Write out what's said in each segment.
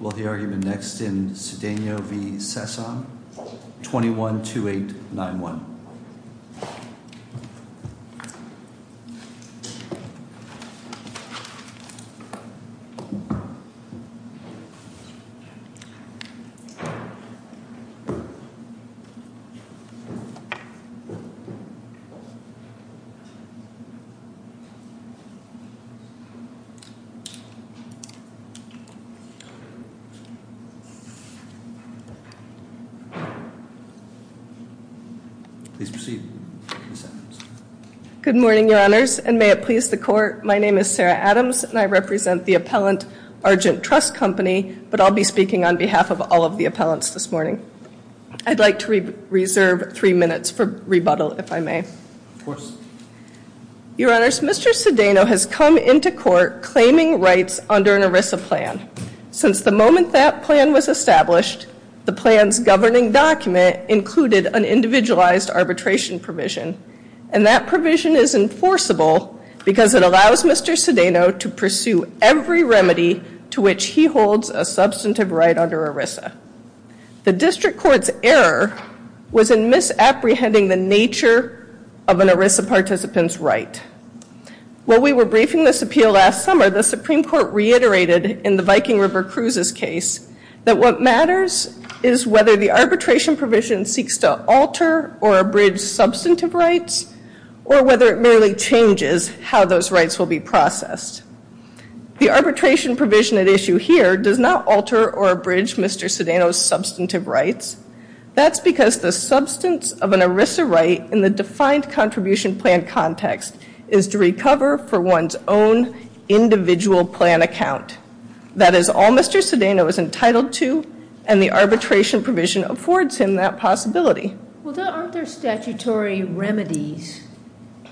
Will the argument next in Cedeno v. Sessom, 21-2891. Please proceed. Good morning, Your Honors, and may it please the Court, my name is Sarah Adams, and I represent the appellant, Argent Trust Company, but I'll be speaking on behalf of all of the appellants this morning. I'd like to reserve three minutes for rebuttal, if I may. Of course. Your Honors, Mr. Cedeno has come into court claiming rights under an ERISA plan. Since the moment that plan was established, the plan's governing document included an individualized arbitration provision, and that provision is enforceable because it allows Mr. Cedeno to pursue every remedy to which he holds a substantive right under ERISA. The District Court's error was in misapprehending the nature of an ERISA participant's right. While we were briefing this appeal last summer, the Supreme Court reiterated in the Viking River Cruises case that what matters is whether the arbitration provision seeks to alter or abridge substantive rights, or whether it merely changes how those rights will be processed. The arbitration provision at issue here does not alter or abridge Mr. Cedeno's substantive rights. That's because the substance of an ERISA right in the defined contribution plan context is to recover for one's own individual plan account. That is all Mr. Cedeno is entitled to, and the arbitration provision affords him that possibility. Well, aren't there statutory remedies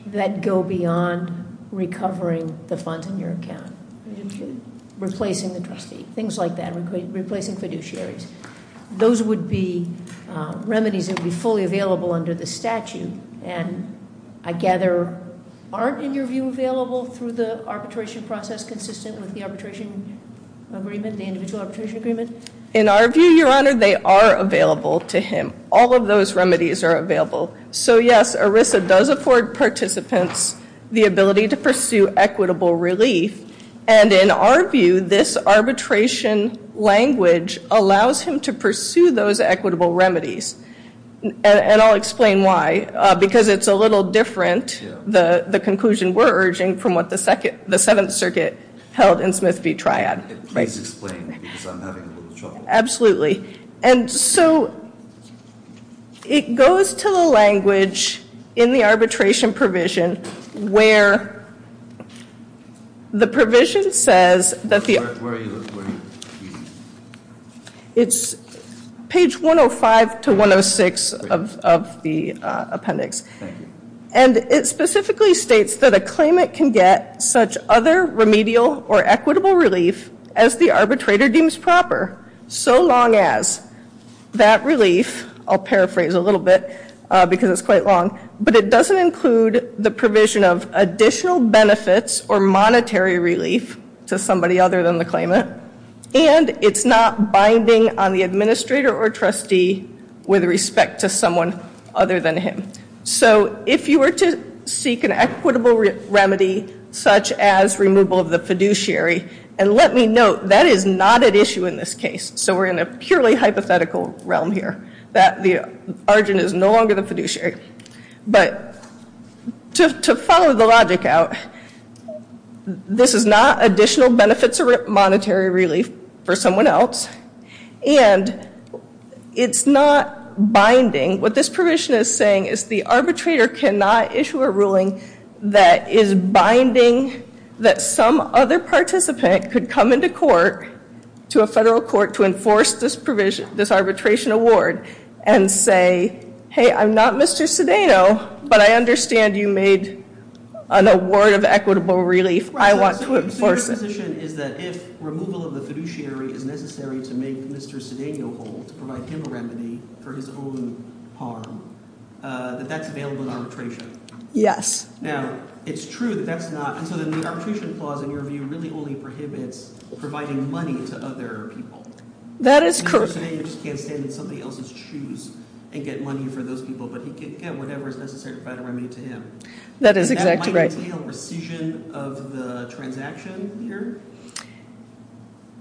that go beyond recovering the funds in your account? Replacing the trustee, things like that, replacing fiduciaries. Those would be remedies that would be fully available under the statute. And I gather, aren't, in your view, available through the arbitration process consistent with the arbitration agreement, the individual arbitration agreement? In our view, Your Honor, they are available to him. All of those remedies are available. So, yes, ERISA does afford participants the ability to pursue equitable relief. And in our view, this arbitration language allows him to pursue those equitable remedies. And I'll explain why, because it's a little different, the conclusion we're urging, from what the Seventh Circuit held in Smith v. Triad. Please explain, because I'm having a little trouble. Absolutely. And so it goes to the language in the arbitration provision where the provision says that the Where are you looking? It's page 105 to 106 of the appendix. Thank you. And it specifically states that a claimant can get such other remedial or equitable relief as the arbitrator deems proper, so long as that relief, I'll paraphrase a little bit because it's quite long, but it doesn't include the provision of additional benefits or monetary relief to somebody other than the claimant, and it's not binding on the administrator or trustee with respect to someone other than him. So if you were to seek an equitable remedy such as removal of the fiduciary, and let me note, that is not at issue in this case, so we're in a purely hypothetical realm here, that the argent is no longer the fiduciary. But to follow the logic out, this is not additional benefits or monetary relief for someone else, and it's not binding. What this provision is saying is the arbitrator cannot issue a ruling that is binding that some other participant could come into court, to a federal court, to enforce this arbitration award and say, hey, I'm not Mr. Cedeno, but I understand you made an award of equitable relief. I want to enforce it. The proposition is that if removal of the fiduciary is necessary to make Mr. Cedeno whole, to provide him a remedy for his own harm, that that's available in arbitration. Yes. Now, it's true that that's not, and so then the arbitration clause, in your view, really only prohibits providing money to other people. That is correct. Mr. Cedeno just can't stand in somebody else's shoes and get money for those people, but he can get whatever is necessary to provide a remedy to him. That is exactly right. Does that entail rescission of the transaction here?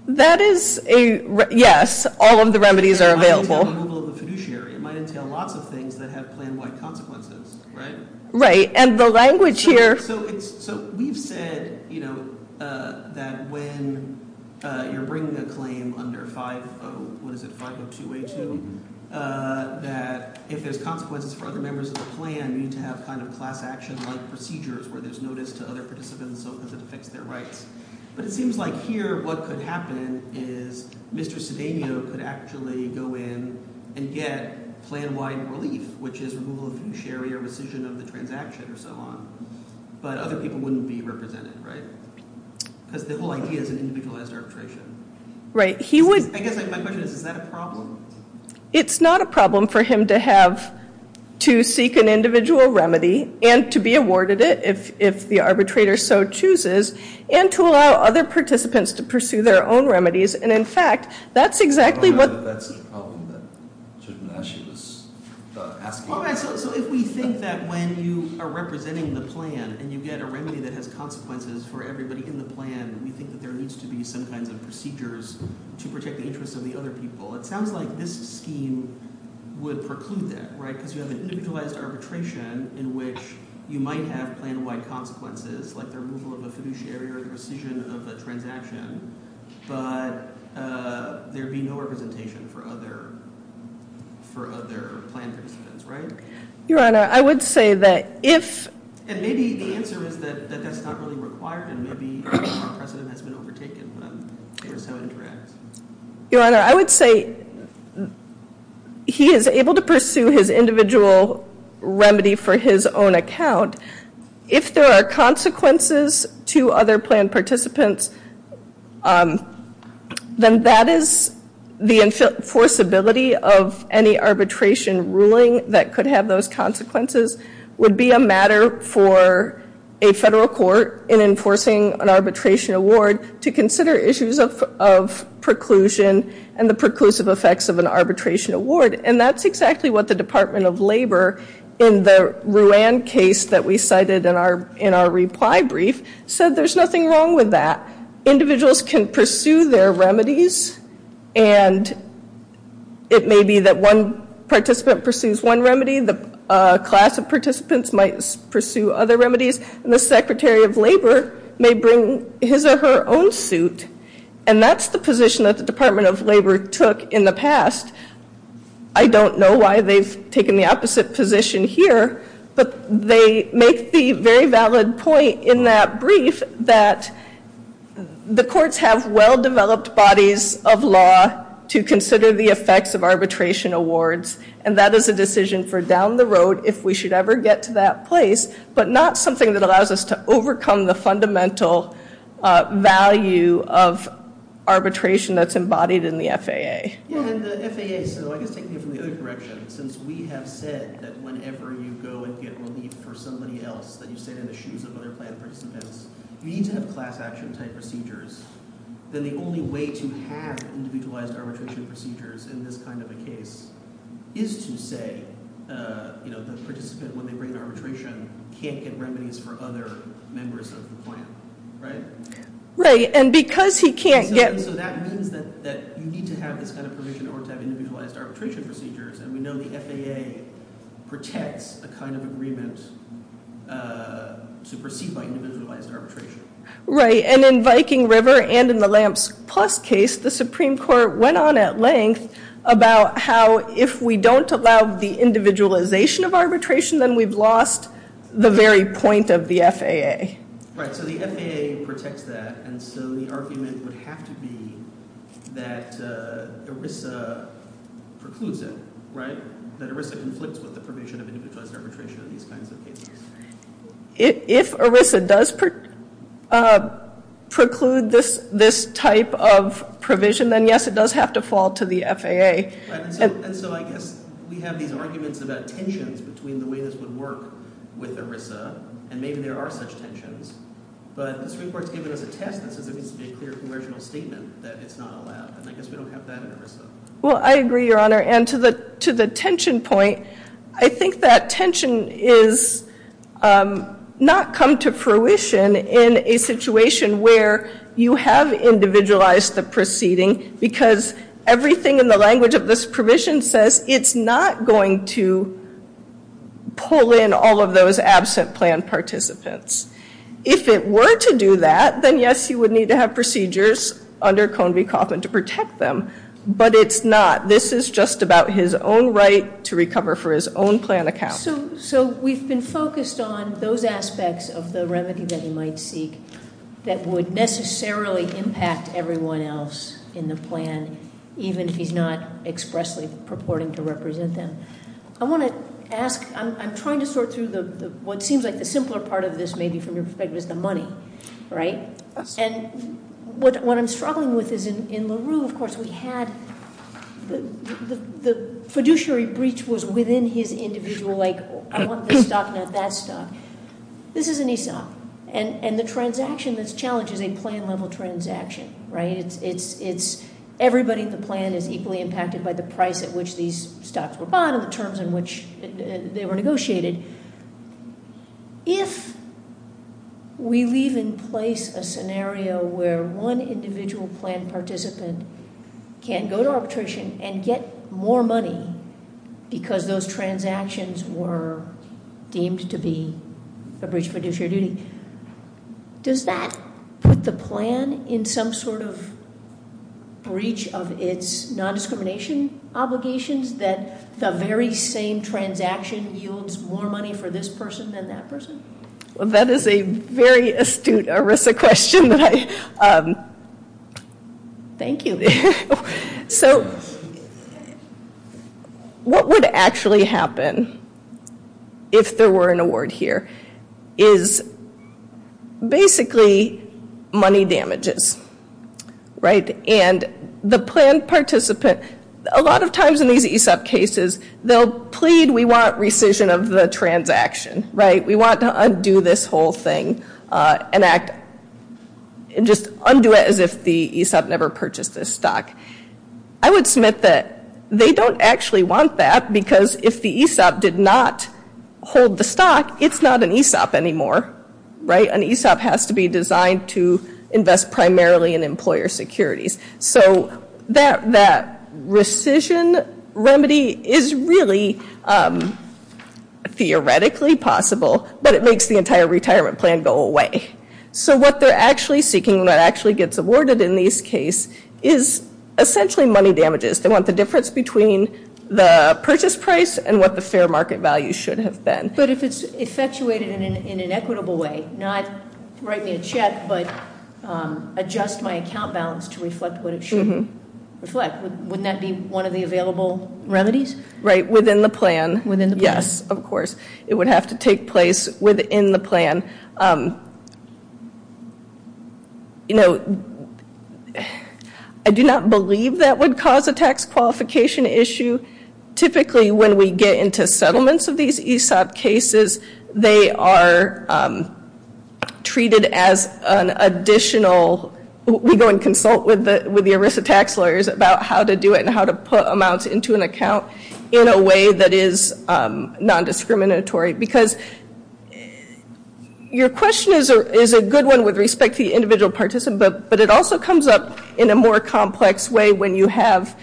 That is a, yes, all of the remedies are available. It might entail removal of the fiduciary. It might entail lots of things that have plan-wide consequences, right? Right, and the language here. So we've said that when you're bringing a claim under 502A2, that if there's consequences for other members of the plan, you need to have kind of class-action-like procedures where there's notice to other participants so that it affects their rights, but it seems like here what could happen is Mr. Cedeno could actually go in and get plan-wide relief, which is removal of fiduciary or rescission of the transaction or so on, but other people wouldn't be represented, right? Because the whole idea is an individualized arbitration. Right. I guess my question is, is that a problem? It's not a problem for him to have to seek an individual remedy and to be awarded it, if the arbitrator so chooses, and to allow other participants to pursue their own remedies, and, in fact, that's exactly what the... I don't know if that's the problem that Judge Menasci was asking. All right, so if we think that when you are representing the plan and you get a remedy that has consequences for everybody in the plan, we think that there needs to be some kinds of procedures to protect the interests of the other people. It sounds like this scheme would preclude that, right, because you have an individualized arbitration in which you might have plan-wide consequences, like the removal of a fiduciary or the rescission of a transaction, but there would be no representation for other plan participants, right? Your Honor, I would say that if... And maybe the answer is that that's not really required, and maybe our precedent has been overtaken, but I'm curious how it interacts. Your Honor, I would say he is able to pursue his individual remedy for his own account. If there are consequences to other plan participants, then that is the enforceability of any arbitration ruling that could have those consequences, would be a matter for a federal court in enforcing an arbitration award to consider issues of preclusion and the preclusive effects of an arbitration award, and that's exactly what the Department of Labor, in the Ruan case that we cited in our reply brief, said there's nothing wrong with that. Individuals can pursue their remedies, and it may be that one participant pursues one remedy, the class of participants might pursue other remedies, and the Secretary of Labor may bring his or her own suit, and that's the position that the Department of Labor took in the past. I don't know why they've taken the opposite position here, but they make the very valid point in that brief that the courts have well-developed bodies of law to consider the effects of arbitration awards, and that is a decision for down the road if we should ever get to that place, but not something that allows us to overcome the fundamental value of arbitration that's embodied in the FAA. And the FAA, so I guess taking it from the other direction, since we have said that whenever you go and get relief for somebody else, that you stand in the shoes of other planned participants, you need to have class action type procedures, then the only way to have individualized arbitration procedures in this kind of a case is to say the participant, when they bring arbitration, can't get remedies for other members of the plan, right? Right, and because he can't get- So that means that you need to have this kind of provision in order to have individualized arbitration procedures, and we know the FAA protects the kind of agreement to proceed by individualized arbitration. Right, and in Viking River and in the Lamps Plus case, the Supreme Court went on at length about how if we don't allow the individualization of arbitration, then we've lost the very point of the FAA. Right, so the FAA protects that, and so the argument would have to be that ERISA precludes it, right? That ERISA conflicts with the provision of individualized arbitration in these kinds of cases. If ERISA does preclude this type of provision, then yes, it does have to fall to the FAA. Right, and so I guess we have these arguments about tensions between the way this would work with ERISA, and maybe there are such tensions, but the Supreme Court's given us a test that says there needs to be a clear conversional statement that it's not allowed, and I guess we don't have that in ERISA. Well, I agree, Your Honor, and to the tension point, I think that tension is not come to fruition in a situation where you have individualized the proceeding because everything in the language of this provision says it's not going to pull in all of those absent plan participants. If it were to do that, then yes, you would need to have procedures under Cone v. Kaufman to protect them, but it's not. This is just about his own right to recover for his own plan account. So we've been focused on those aspects of the remedy that he might seek that would necessarily impact everyone else in the plan, even if he's not expressly purporting to represent them. I want to ask, I'm trying to sort through what seems like the simpler part of this, maybe from your perspective, is the money, right? And what I'm struggling with is in LaRue, of course, we had the fiduciary breach was within his individual, like I want this stock, not that stock. This is an ESOP, and the transaction that's challenged is a plan-level transaction, right? It's everybody in the plan is equally impacted by the price at which these stocks were bought and the terms in which they were negotiated. If we leave in place a scenario where one individual plan participant can go to arbitration and get more money because those transactions were deemed to be a breach of fiduciary duty, does that put the plan in some sort of breach of its nondiscrimination obligations that the very same transaction yields more money for this person than that person? Well, that is a very astute ERISA question. Thank you. So what would actually happen if there were an award here is basically money damages, right? And the plan participant, a lot of times in these ESOP cases, they'll plead, we want rescission of the transaction, right? We want to undo this whole thing and just undo it as if the ESOP never purchased this stock. I would submit that they don't actually want that because if the ESOP did not hold the stock, it's not an ESOP anymore, right? An ESOP has to be designed to invest primarily in employer securities. So that rescission remedy is really theoretically possible, but it makes the entire retirement plan go away. So what they're actually seeking, what actually gets awarded in these cases, is essentially money damages. They want the difference between the purchase price and what the fair market value should have been. But if it's effectuated in an equitable way, not write me a check, but adjust my account balance to reflect what it should reflect, wouldn't that be one of the available remedies? Right, within the plan. Within the plan. Yes, of course. It would have to take place within the plan. I do not believe that would cause a tax qualification issue. Typically when we get into settlements of these ESOP cases, they are treated as an additional. We go and consult with the ERISA tax lawyers about how to do it and how to put amounts into an account in a way that is non-discriminatory. Because your question is a good one with respect to the individual participant, but it also comes up in a more complex way when you have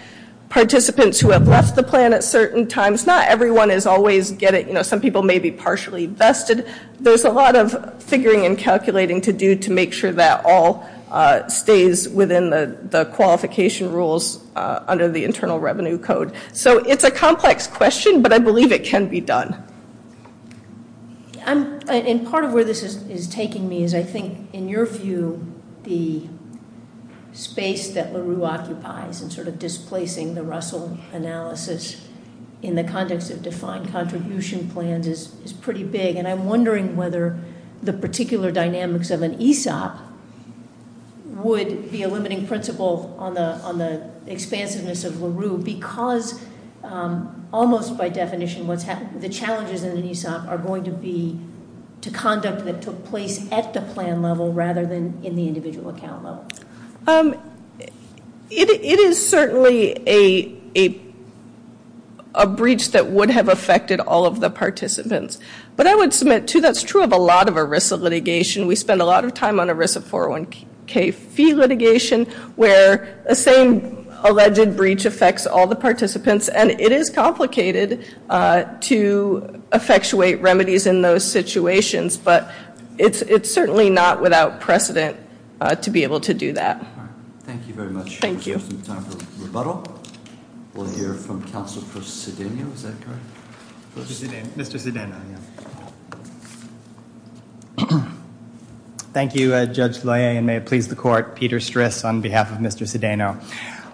participants who have left the plan at certain times. Not everyone is always getting it. Some people may be partially vested. There's a lot of figuring and calculating to do to make sure that all stays within the qualification rules under the Internal Revenue Code. So it's a complex question, but I believe it can be done. And part of where this is taking me is, I think, in your view, the space that LaRue occupies in sort of displacing the Russell analysis in the context of defined contribution plans is pretty big. And I'm wondering whether the particular dynamics of an ESOP would be a limiting principle on the expansiveness of LaRue because almost by definition, the challenges in an ESOP are going to be to conduct that took place at the plan level rather than in the individual account level. It is certainly a breach that would have affected all of the participants. But I would submit, too, that's true of a lot of ERISA litigation. We spend a lot of time on ERISA 401k fee litigation where the same alleged breach affects all the participants. And it is complicated to effectuate remedies in those situations. But it's certainly not without precedent to be able to do that. All right. Thank you very much. Thank you. We have some time for rebuttal. We'll hear from counsel for Cedena. Is that correct? Mr. Cedena. Mr. Cedena. Thank you, Judge Loyer, and may it please the court. Peter Stris on behalf of Mr. Cedena.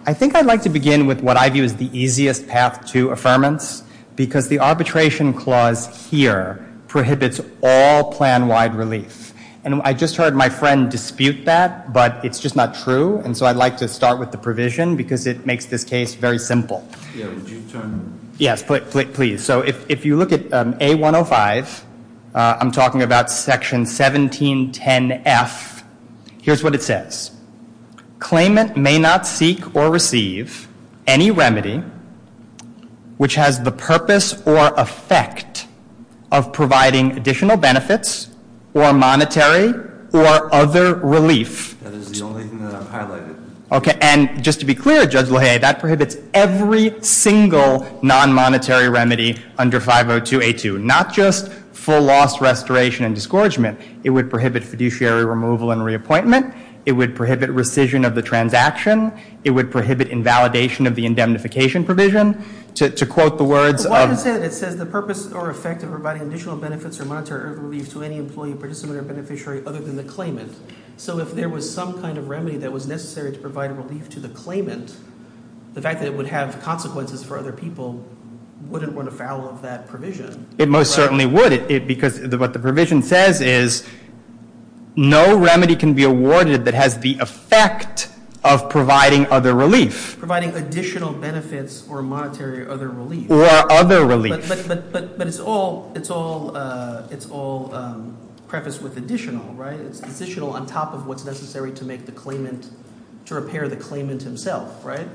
I think I'd like to begin with what I view as the easiest path to affirmance because the arbitration clause here prohibits all plan-wide relief. And I just heard my friend dispute that, but it's just not true. And so I'd like to start with the provision because it makes this case very simple. Yeah, would you turn? Yes, please. So if you look at A105, I'm talking about section 1710F. Here's what it says. Claimant may not seek or receive any remedy which has the purpose or effect of providing additional benefits or monetary or other relief. That is the only thing that I've highlighted. Okay. And just to be clear, Judge Loyer, that prohibits every single non-monetary remedy under 502A2, not just full loss restoration and disgorgement. It would prohibit fiduciary removal and reappointment. It would prohibit rescission of the transaction. It would prohibit invalidation of the indemnification provision. To quote the words of – But why does it say that? It says the purpose or effect of providing additional benefits or monetary or other relief to any employee, participant, or beneficiary other than the claimant. So if there was some kind of remedy that was necessary to provide relief to the claimant, the fact that it would have consequences for other people wouldn't run afoul of that provision. It most certainly would because what the provision says is no remedy can be awarded that has the effect of providing other relief. Providing additional benefits or monetary or other relief. Or other relief. But it's all prefaced with additional, right? It's additional on top of what's necessary to make the claimant – to repair the claimant himself, right?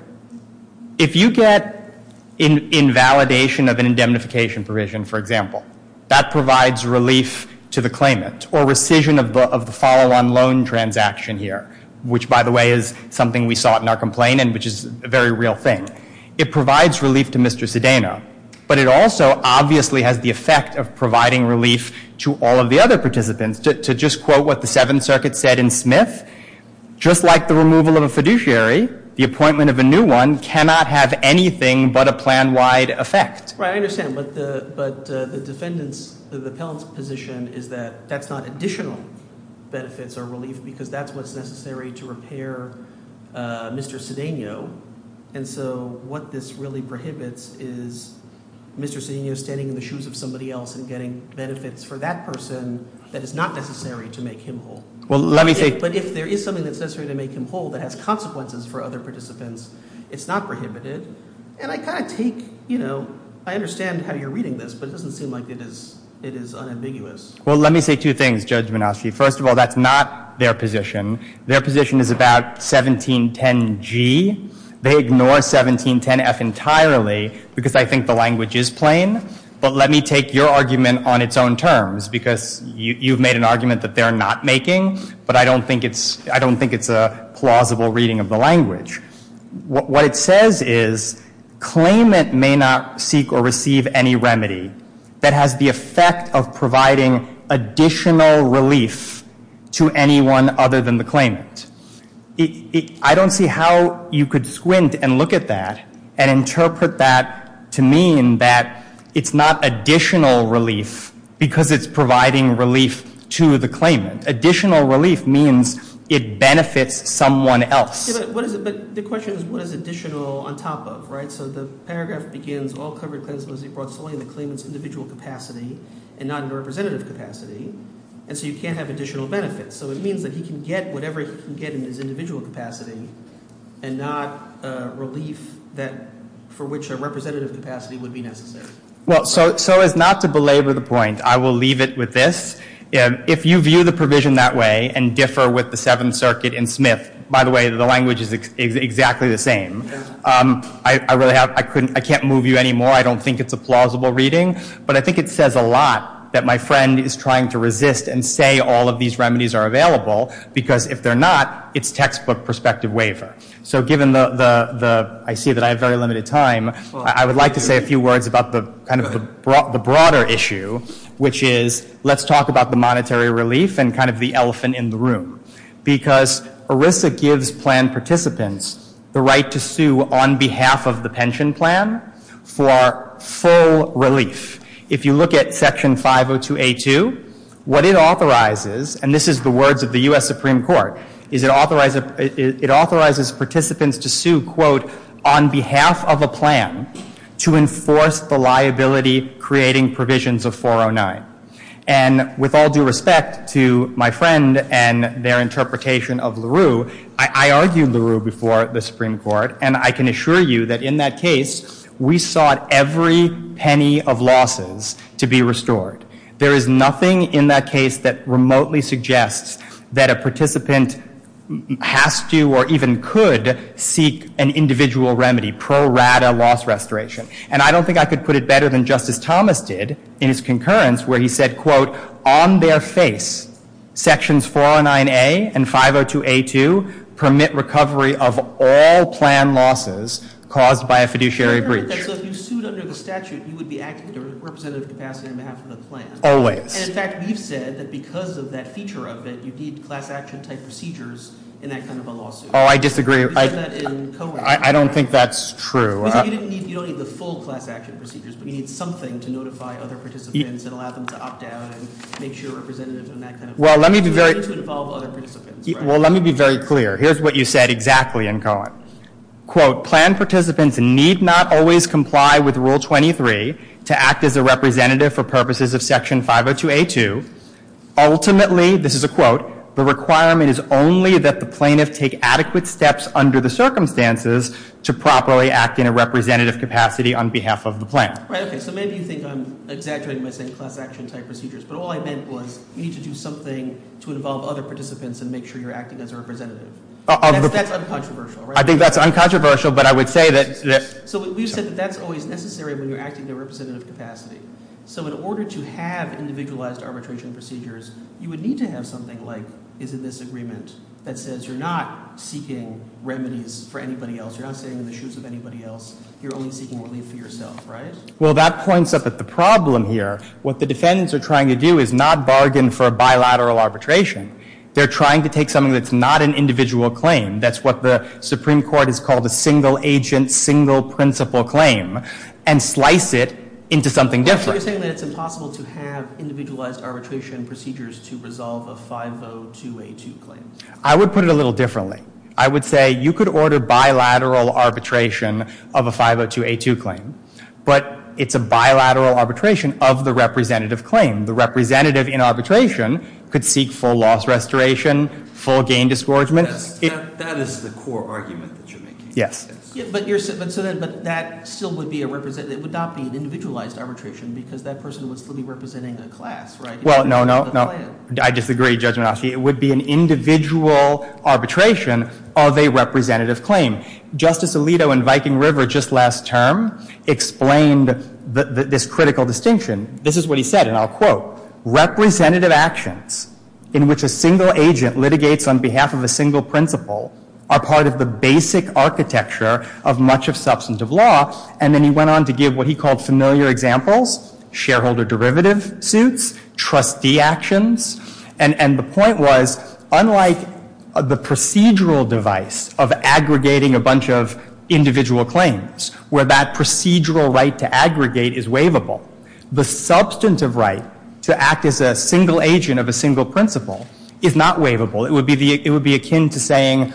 If you get invalidation of an indemnification provision, for example, that provides relief to the claimant or rescission of the follow-on loan transaction here, which, by the way, is something we saw in our complaint and which is a very real thing. It provides relief to Mr. Cedeno. But it also obviously has the effect of providing relief to all of the other participants. To just quote what the Seventh Circuit said in Smith, just like the removal of a fiduciary, the appointment of a new one cannot have anything but a plan-wide effect. Right, I understand. But the defendant's – the appellant's position is that that's not additional benefits or relief because that's what's necessary to repair Mr. Cedeno. And so what this really prohibits is Mr. Cedeno standing in the shoes of somebody else and getting benefits for that person that is not necessary to make him whole. Well, let me say – But if there is something that's necessary to make him whole that has consequences for other participants, it's not prohibited. And I kind of take – you know, I understand how you're reading this, but it doesn't seem like it is unambiguous. Well, let me say two things, Judge Minoski. First of all, that's not their position. Their position is about 1710G. They ignore 1710F entirely because I think the language is plain. But let me take your argument on its own terms because you've made an argument that they're not making, but I don't think it's a plausible reading of the language. What it says is claimant may not seek or receive any remedy that has the effect of providing additional relief to anyone other than the claimant. I don't see how you could squint and look at that and interpret that to mean that it's not additional relief because it's providing relief to the claimant. Additional relief means it benefits someone else. But the question is what is additional on top of, right? So the paragraph begins, All covered claimants must be brought solely in the claimant's individual capacity and not in a representative capacity, and so you can't have additional benefits. So it means that he can get whatever he can get in his individual capacity and not relief for which a representative capacity would be necessary. Well, so as not to belabor the point, I will leave it with this. If you view the provision that way and differ with the Seventh Circuit and Smith, by the way, the language is exactly the same. I can't move you any more. I don't think it's a plausible reading, but I think it says a lot that my friend is trying to resist and say all of these remedies are available because if they're not, it's textbook prospective waiver. So given the, I see that I have very limited time, I would like to say a few words about the broader issue, which is let's talk about the monetary relief and kind of the elephant in the room. Because ERISA gives plan participants the right to sue on behalf of the pension plan for full relief. If you look at Section 502A2, what it authorizes, and this is the words of the U.S. Supreme Court, is it authorizes participants to sue, quote, on behalf of a plan to enforce the liability creating provisions of 409. And with all due respect to my friend and their interpretation of LaRue, I argued LaRue before the Supreme Court, and I can assure you that in that case, we sought every penny of losses to be restored. There is nothing in that case that remotely suggests that a participant has to or even could seek an individual remedy, pro rata loss restoration. And I don't think I could put it better than Justice Thomas did in his concurrence where he said, quote, on their face, Sections 409A and 502A2 permit recovery of all plan losses caused by a fiduciary breach. So if you sued under the statute, you would be acting to a representative capacity on behalf of the plan. Always. And in fact, we've said that because of that feature of it, you need class action type procedures in that kind of a lawsuit. Oh, I disagree. You said that in Cohen. I don't think that's true. You don't need the full class action procedures, but you need something to notify other participants and allow them to opt out and make sure representatives and that kind of thing. Well, let me be very clear. Here's what you said exactly in Cohen. Quote, plan participants need not always comply with Rule 23 to act as a representative for purposes of Section 502A2. Ultimately, this is a quote, the requirement is only that the plaintiff take adequate steps under the circumstances to properly act in a representative capacity on behalf of the plan. Right, okay. So maybe you think I'm exaggerating by saying class action type procedures, but all I meant was you need to do something to involve other participants and make sure you're acting as a representative. That's uncontroversial, right? I think that's uncontroversial, but I would say that... So we've said that that's always necessary when you're acting in a representative capacity. So in order to have individualized arbitration procedures, you would need to have something like, is it this agreement that says you're not seeking remedies for anybody else, you're not staying in the shoes of anybody else, you're only seeking relief for yourself, right? Well, that points up at the problem here. What the defendants are trying to do is not bargain for a bilateral arbitration. They're trying to take something that's not an individual claim, that's what the Supreme Court has called a single-agent, single-principle claim, and slice it into something different. So you're saying that it's impossible to have individualized arbitration procedures to resolve a 502A2 claim? I would put it a little differently. I would say you could order bilateral arbitration of a 502A2 claim, but it's a bilateral arbitration of the representative claim. The representative in arbitration could seek full loss restoration, full gain disgorgement. That is the core argument that you're making. Yes. But that still would be a representative, it would not be an individualized arbitration because that person would still be representing a class, right? Well, no, no, no. I disagree, Judge Menasci. It would be an individual arbitration of a representative claim. Justice Alito in Viking River just last term explained this critical distinction. This is what he said, and I'll quote, representative actions in which a single agent litigates on behalf of a single principle are part of the basic architecture of much of substantive law. And then he went on to give what he called familiar examples, shareholder derivative suits, trustee actions. And the point was, unlike the procedural device of aggregating a bunch of individual claims, where that procedural right to aggregate is waivable, the substantive right to act as a single agent of a single principle is not waivable. It would be akin to saying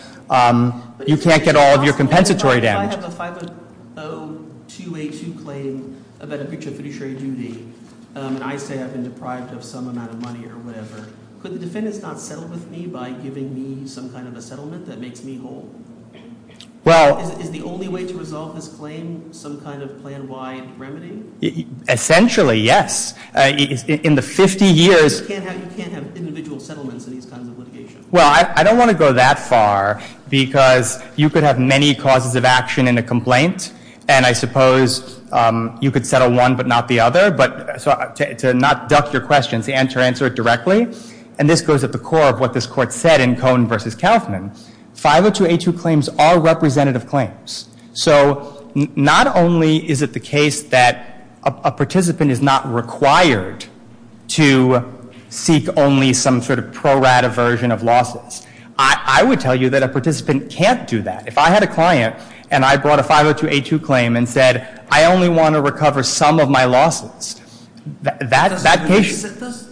you can't get all of your compensatory damage. If I have a 50282 claim about a breach of fiduciary duty and I say I've been deprived of some amount of money or whatever, could the defendants not settle with me by giving me some kind of a settlement that makes me whole? Well... Is the only way to resolve this claim some kind of plan-wide remedy? Essentially, yes. In the 50 years... You can't have individual settlements in these kinds of litigation. Well, I don't want to go that far because you could have many causes of action in a complaint, and I suppose you could settle one but not the other, but to not duck your questions and to answer it directly, and this goes at the core of what this Court said in Cohen v. Kaufman, 50282 claims are representative claims. So not only is it the case that a participant is not required to seek only some sort of pro-rata version of lawsuits, I would tell you that a participant can't do that. If I had a client and I brought a 50282 claim and said I only want to recover some of my lawsuits, that case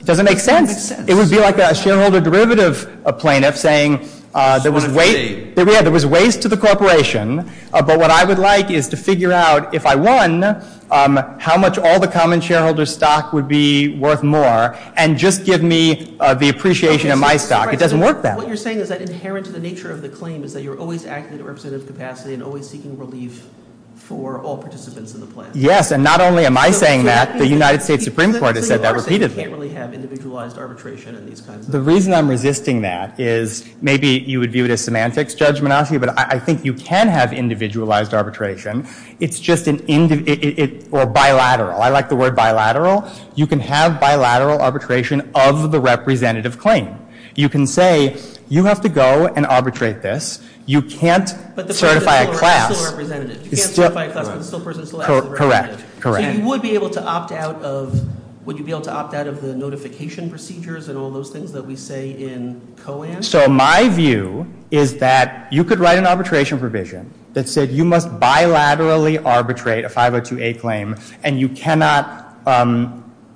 doesn't make sense. It would be like a shareholder derivative plaintiff saying there was waste to the corporation but what I would like is to figure out if I won how much all the common shareholder stock would be worth more and just give me the appreciation of my stock. It doesn't work that way. What you're saying is that inherent to the nature of the claim is that you're always acting in a representative capacity and always seeking relief for all participants in the plaintiff. Yes, and not only am I saying that, the United States Supreme Court has said that repeatedly. So you are saying you can't really have individualized arbitration in these kinds of... The reason I'm resisting that is maybe you would view it as semantics, Judge Menasseh, but I think you can have individualized arbitration. It's just an individual... Or bilateral. I like the word bilateral. You can have bilateral arbitration of the representative claim. You can say you have to go and arbitrate this. You can't certify a class. But the person is still a representative. You can't certify a class but the person is still a representative. Correct, correct. So you would be able to opt out of... Would you be able to opt out of the notification procedures and all those things that we say in COAN? So my view is that you could write an arbitration provision that said you must bilaterally arbitrate a 502A claim and you cannot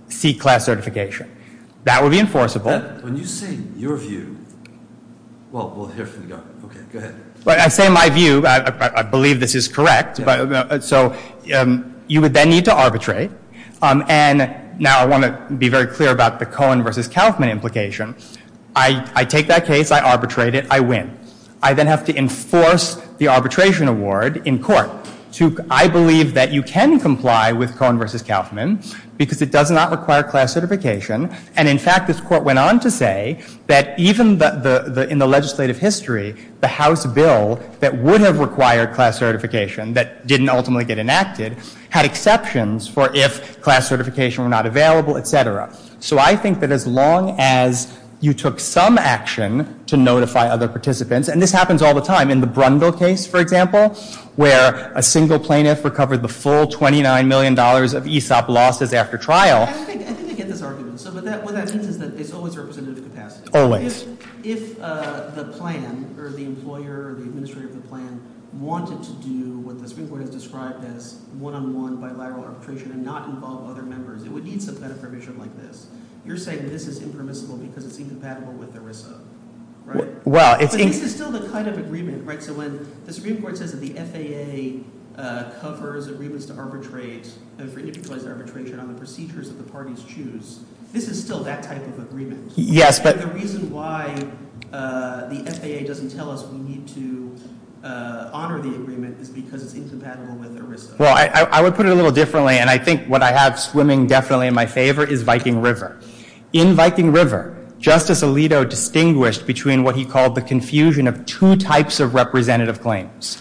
seek class certification. That would be enforceable. When you say your view... Well, we'll hear from the government. Okay, go ahead. I say my view. I believe this is correct. So you would then need to arbitrate. And now I want to be very clear about the COAN versus Kaufman implication. I take that case. I arbitrate it. I win. I then have to enforce the arbitration award in court to... I believe that you can comply with COAN versus Kaufman because it does not require class certification. And, in fact, this court went on to say that even in the legislative history, the House bill that would have required class certification that didn't ultimately get enacted had exceptions for if class certification were not available, etc. So I think that as long as you took some action to notify other participants... And this happens all the time. In the Brundle case, for example, where a single plaintiff recovered the full $29 million of ESOP losses after trial... I think I get this argument. What that means is that there's always representative capacity. Always. If the plan or the employer or the administrator of the plan wanted to do what the Supreme Court has described as one-on-one bilateral arbitration and not involve other members, it would need some kind of permission like this. You're saying this is impermissible because it's incompatible with ERISA, right? But this is still the kind of agreement, right? So when the Supreme Court says that the FAA covers agreements to arbitrate for individualized arbitration on the procedures that the parties choose, this is still that type of agreement. Yes, but... And the reason why the FAA doesn't tell us we need to honor the agreement is because it's incompatible with ERISA. Well, I would put it a little differently, and I think what I have swimming definitely in my favor is Viking River. In Viking River, Justice Alito distinguished between what he called the confusion of two types of representative claims.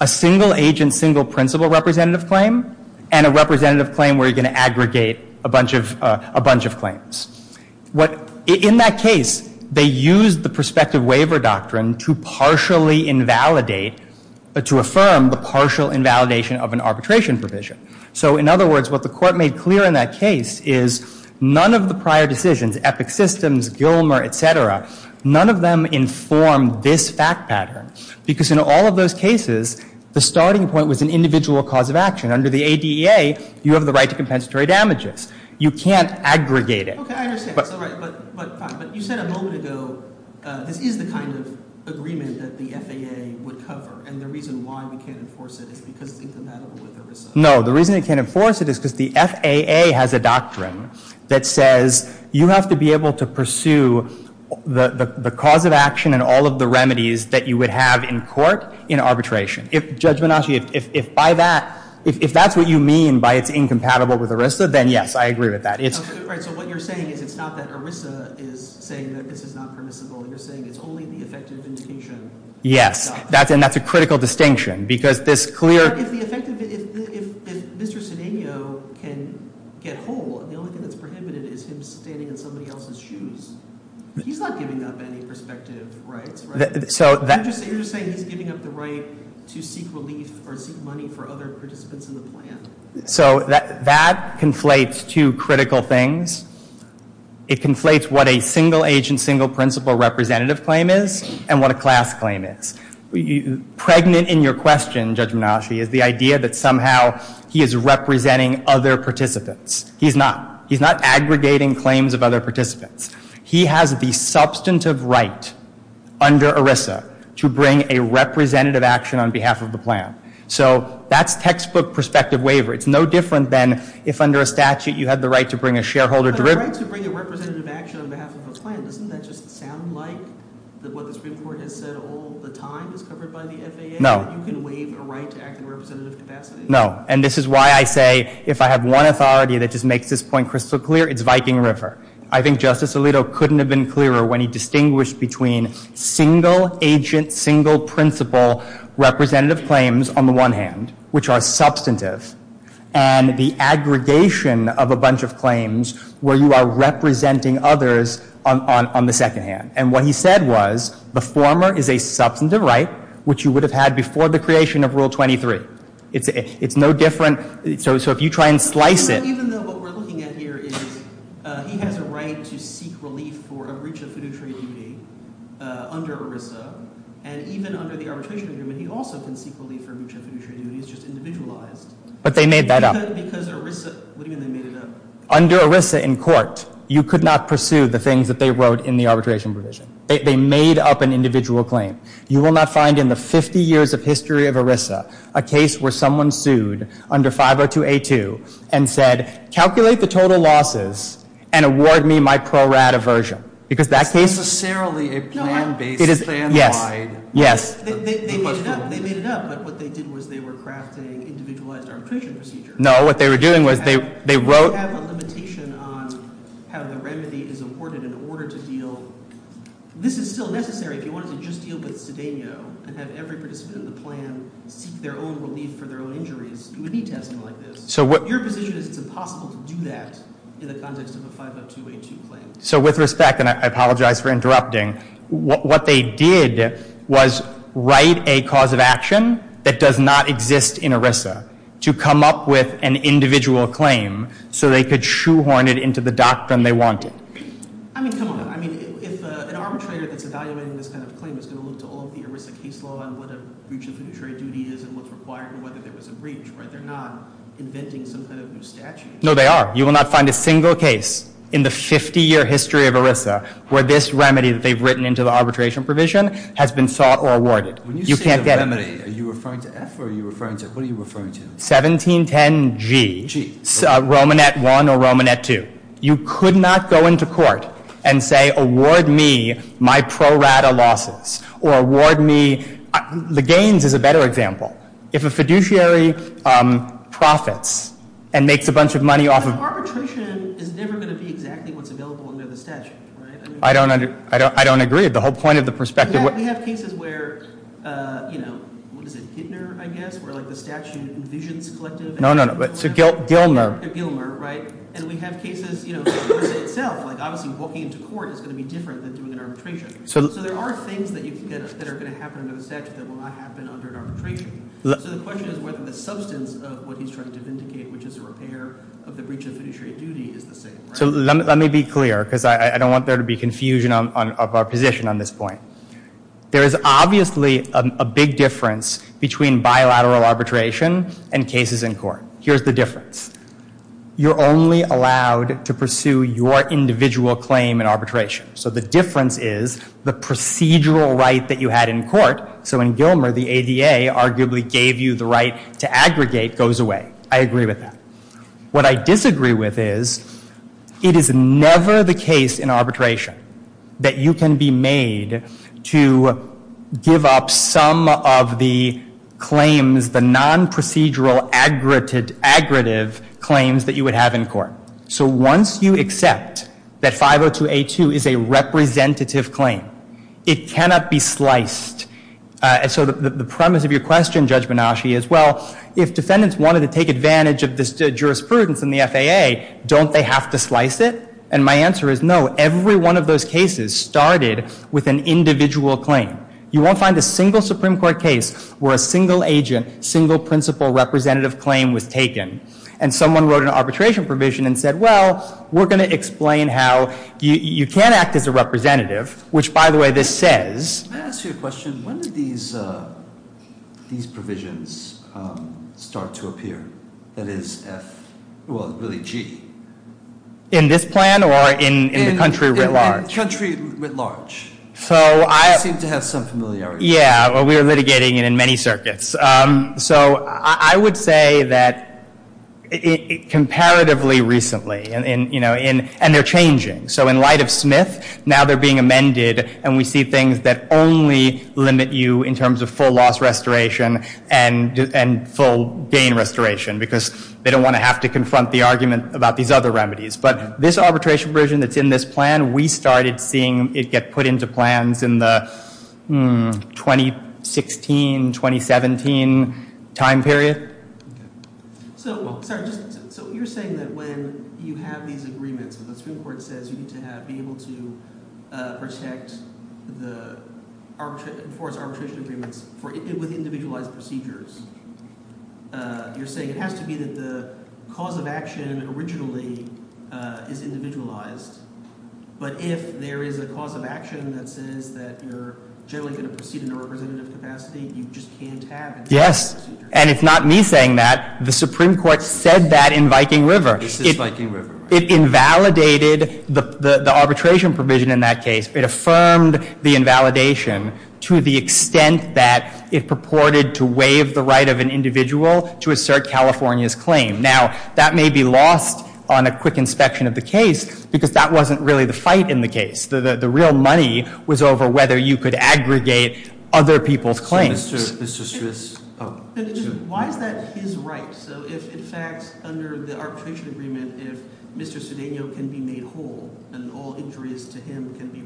A single-agent, single-principle representative claim and a representative claim where you're going to aggregate a bunch of claims. In that case, they used the prospective waiver doctrine to partially invalidate... to affirm the partial invalidation of an arbitration provision. So in other words, what the court made clear in that case is none of the prior decisions, Epic Systems, Gilmer, et cetera, none of them informed this fact pattern because in all of those cases, the starting point was an individual cause of action. Under the ADEA, you have the right to compensatory damages. You can't aggregate it. Okay, I understand. But you said a moment ago this is the kind of agreement that the FAA would cover, and the reason why we can't enforce it is because it's incompatible with ERISA. No, the reason it can't enforce it is because the FAA has a doctrine that says you have to be able to pursue the cause of action and all of the remedies that you would have in court in arbitration. Judge Menasci, if by that... if that's what you mean by it's incompatible with ERISA, then yes, I agree with that. All right, so what you're saying is it's not that ERISA is saying that this is not permissible. You're saying it's only the effective indication. Yes, and that's a critical distinction because this clear... If Mr. Cedeno can get whole, the only thing that's prohibited is him standing in somebody else's shoes. He's not giving up any prospective rights, right? You're just saying he's giving up the right to seek relief or seek money for other participants in the plan. So that conflates two critical things. It conflates what a single-agent, single-principal representative claim is and what a class claim is. Pregnant in your question, Judge Menasci, is the idea that somehow he is representing other participants. He's not. He's not aggregating claims of other participants. He has the substantive right under ERISA to bring a representative action on behalf of the plan. So that's textbook prospective waiver. It's no different than if under a statute you had the right to bring a shareholder... But a right to bring a representative action on behalf of a plan, doesn't that just sound like what the Supreme Court has said all the time is covered by the FAA? No. You can waive a right to act in a representative capacity? No. And this is why I say if I have one authority that just makes this point crystal clear, it's Viking River. I think Justice Alito couldn't have been clearer when he distinguished between single-agent, single-principal representative claims on the one hand, which are substantive, and the aggregation of a bunch of claims where you are representing others on the second hand. And what he said was the former is a substantive right which you would have had before the creation of Rule 23. It's no different... So if you try and slice it... Even though what we're looking at here is he has a right to seek relief for a breach of fiduciary duty under ERISA, and even under the Arbitration Agreement he also can seek relief for a breach of fiduciary duty. It's just individualized. But they made that up. Because ERISA... What do you mean they made it up? Under ERISA in court, you could not pursue the things that they wrote in the arbitration provision. They made up an individual claim. You will not find in the 50 years of history of ERISA a case where someone sued under 502A2 and said, calculate the total losses and award me my pro-rat aversion. Because that case... It's necessarily a plan-based, plan-wide... Yes. They made it up. But what they did was they were crafting individualized arbitration procedures. No, what they were doing was they wrote... Do you have a limitation on how the remedy is awarded in order to deal... This is still necessary if you wanted to just deal with Cedeno and have every participant in the plan seek their own relief for their own injuries. You would need to have something like this. Your position is it's impossible to do that in the context of a 502A2 claim. So with respect, and I apologize for interrupting, what they did was write a cause of action that does not exist in ERISA to come up with an individual claim so they could shoehorn it into the doctrine they wanted. I mean, come on. I mean, if an arbitrator that's evaluating this kind of claim is going to look to all of the ERISA case law on what a breach of literary duty is and what's required and whether there was a breach, right? They're not inventing some kind of new statute. No, they are. You will not find a single case in the 50-year history of ERISA where this remedy that they've written into the arbitration provision has been sought or awarded. You can't get it. When you say the remedy, are you referring to F or are you referring to... What are you referring to? 1710G. Romanet I or Romanet II. You could not go into court and say, award me my pro rata losses or award me... The Gaines is a better example. If a fiduciary profits and makes a bunch of money off of... But arbitration is never going to be exactly what's available under the statute, right? I don't agree with the whole point of the perspective. We have cases where, you know, what is it, Hittner, I guess, where the statute envisions collective... Gilmer, right? And we have cases, you know, ERISA itself, like obviously walking into court is going to be different than doing an arbitration. So there are things that are going to happen under the statute that will not happen under an arbitration. So the question is whether the substance of what he's trying to vindicate, which is a repair of the breach of fiduciary duty is the same, right? So let me be clear because I don't want there to be confusion of our position on this point. There is obviously a big difference between bilateral arbitration and cases in court. Here's the difference. You're only allowed to pursue your individual claim in arbitration. So the difference is the procedural right that you had in court. So in Gilmer, the ADA arguably gave you the right to aggregate goes away. I agree with that. What I disagree with is it is never the case in arbitration that you can be made to give up some of the claims, the non-procedural aggregative claims that you would have in court. So once you accept that 502A2 is a representative claim, it cannot be sliced. And so the premise of your question, Judge Benashi, is well, if defendants wanted to take advantage of this jurisprudence in the FAA, don't they have to slice it? And my answer is no. Every one of those cases started with an individual claim. You won't find a single Supreme Court case where a single agent, single principal representative claim was taken. And someone wrote an arbitration provision and said, well, we're going to explain how you can act as a representative, which, by the way, this says. Let me ask you a question. When did these provisions start to appear? That is, F, well, really, G. In this plan or in the country writ large? In the country writ large. You seem to have some familiarity. Yeah, we were litigating it in many circuits. So, I would say that comparatively recently and, you know, and they're changing. So, in light of Smith, now they're being amended and we see things that only limit you in terms of full loss restoration and full gain restoration because they don't want to have to confront the argument about these other remedies. But, this arbitration provision that's in this plan, we started seeing it get put into plans in the 2016 2017 time period. So, sorry, so you're saying that when you have these agreements and the Supreme Court says you need to have, be able to protect the arbitration agreements with individualized procedures, you're saying it has to be that the cause of action originally is individualized, but if there is a cause of action that says that you're generally going to have a representative capacity, you just can't have it. Yes, and it's not me saying that. The Supreme Court said that in Viking River. It invalidated the arbitration provision in that case. It affirmed the invalidation to the extent that it purported to waive the right of an individual to assert California's claim. Now, that may be lost on a quick inspection of the case because that wasn't really the fight in the case. The real money was over whether you could aggregate other people's claims. Why is that his right? So, if in fact, under the arbitration agreement, if Mr. Cedeno can be made whole and all injuries to him can be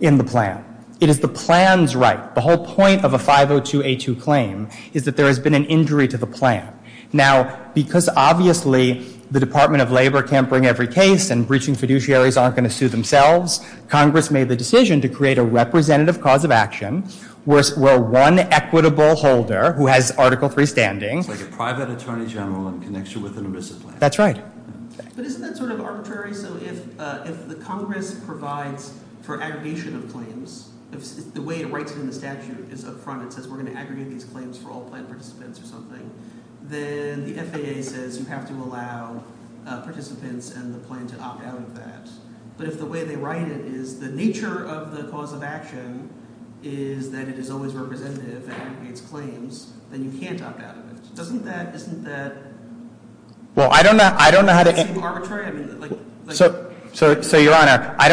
in the plan. It is the plan's right. The whole point of a 502A2 claim is that there has been an injury to the plan. Now, because obviously the Department of Labor can't bring every case and breaching fiduciaries aren't going to sue themselves, Congress made the decision to create a representative cause of action where one equitable holder who has article 3 standing... That's right. But isn't that sort of arbitrary? So, if the Congress provides for aggregation of claims, the way it writes in the statute is up front, it says we're going to aggregate these claims for all plan participants or something, then the FAA says you have to allow participants and the plan to opt out of that. But if the way they write it is the nature of the cause of action is that it is a of action. Now, I don't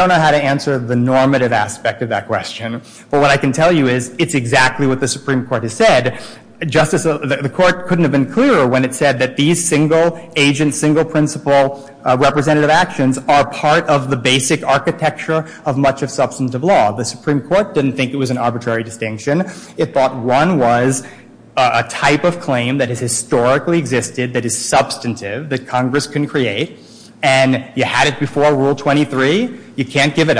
know how to answer the normative aspect of that question, but what I can tell you is it's exactly what the Supreme Court has said. The Court couldn't have been clearer when it said that these single agent, single principle representative actions are part of the basic architecture of much of substantive law. The Supreme Court didn't think it was an arbitrary distinction. It thought one was a type of claim that was about a purpose and the significant as the Court has called it value of such large litigation when retirement plans hold millions and sometimes billions of dollars of value in the first place which was a primary driver of a risk not just to protect benefits but to encourage employers to want to undertake this endeavor. I'm glad to get back to Viking River because Mr. Stris' explication of that case was informative. The problem for him is that an ERISA claim is not like a single participant single agent claim. And he tells us he knows all about what LaRue told us because he argued it but he's not like a key tam action. You do not stand in the shoes of the plan. And I would direct you to 140 Supreme Court 1615 and it's the pin site is 1620. And the Supreme Court said the plans claims have not been legally or contractually assigned to Full or Smith the plaintiffs. And they say CF a key tam case. And what the court said in that case was that in a divine benefit plan context, if you personally did not suffer the injury, you do not get to come into court. You lack constitutional standing to represent the plan. You have to be personally hurt. And it doesn't matter that that's a defined benefit plan case because 502, A2, and A3, they're the same for defined benefit and defined contribution plans. So if a participant doesn't stand in the shoes of a defined benefit plan where there is one undifferentiated trust corpus, then he certainly does not stand in the shoes of other plan participants in a defined contribution plan where those individual accounts give each participant their own rights. I'm saying that the U.S. Bank tells us that the nature of a 502 claim is not as a representative of the plan. So you're saying the statute doesn't set the person up as a representative of the plan. They're in their individual capacity. But certainly if the litigation were just proceeding under the statute, that individual would be getting relief on behalf of other members of the plan, right? He could, and the error of the district court below is to conflate permissible with what must happen in every case. And if you look at the epic systems case and all of the cases that the Supreme Court has reviewed, there's contradiction statute and the statute. And that's case. And that's the case. And that's the case. And that's the case. And that's the The other case which refers to other relief, I would submit that that's a more general provision, and G goes into the specifics of what type of remedies are available, and that's where it makes it clear you can get any sort of remedy from the arbitrator so long as you're not giving some additional benefits to someone else or you're not creating a preclusive effect with respect to others' claims. So you're saying the role of subsection F is what? To preview subsection G? I think it is a broader general statement of the type of remedies that are available. So if we're talking about what relief is available when you bring a 502A2 claim, you have to look at G? Correct. Thank you very much.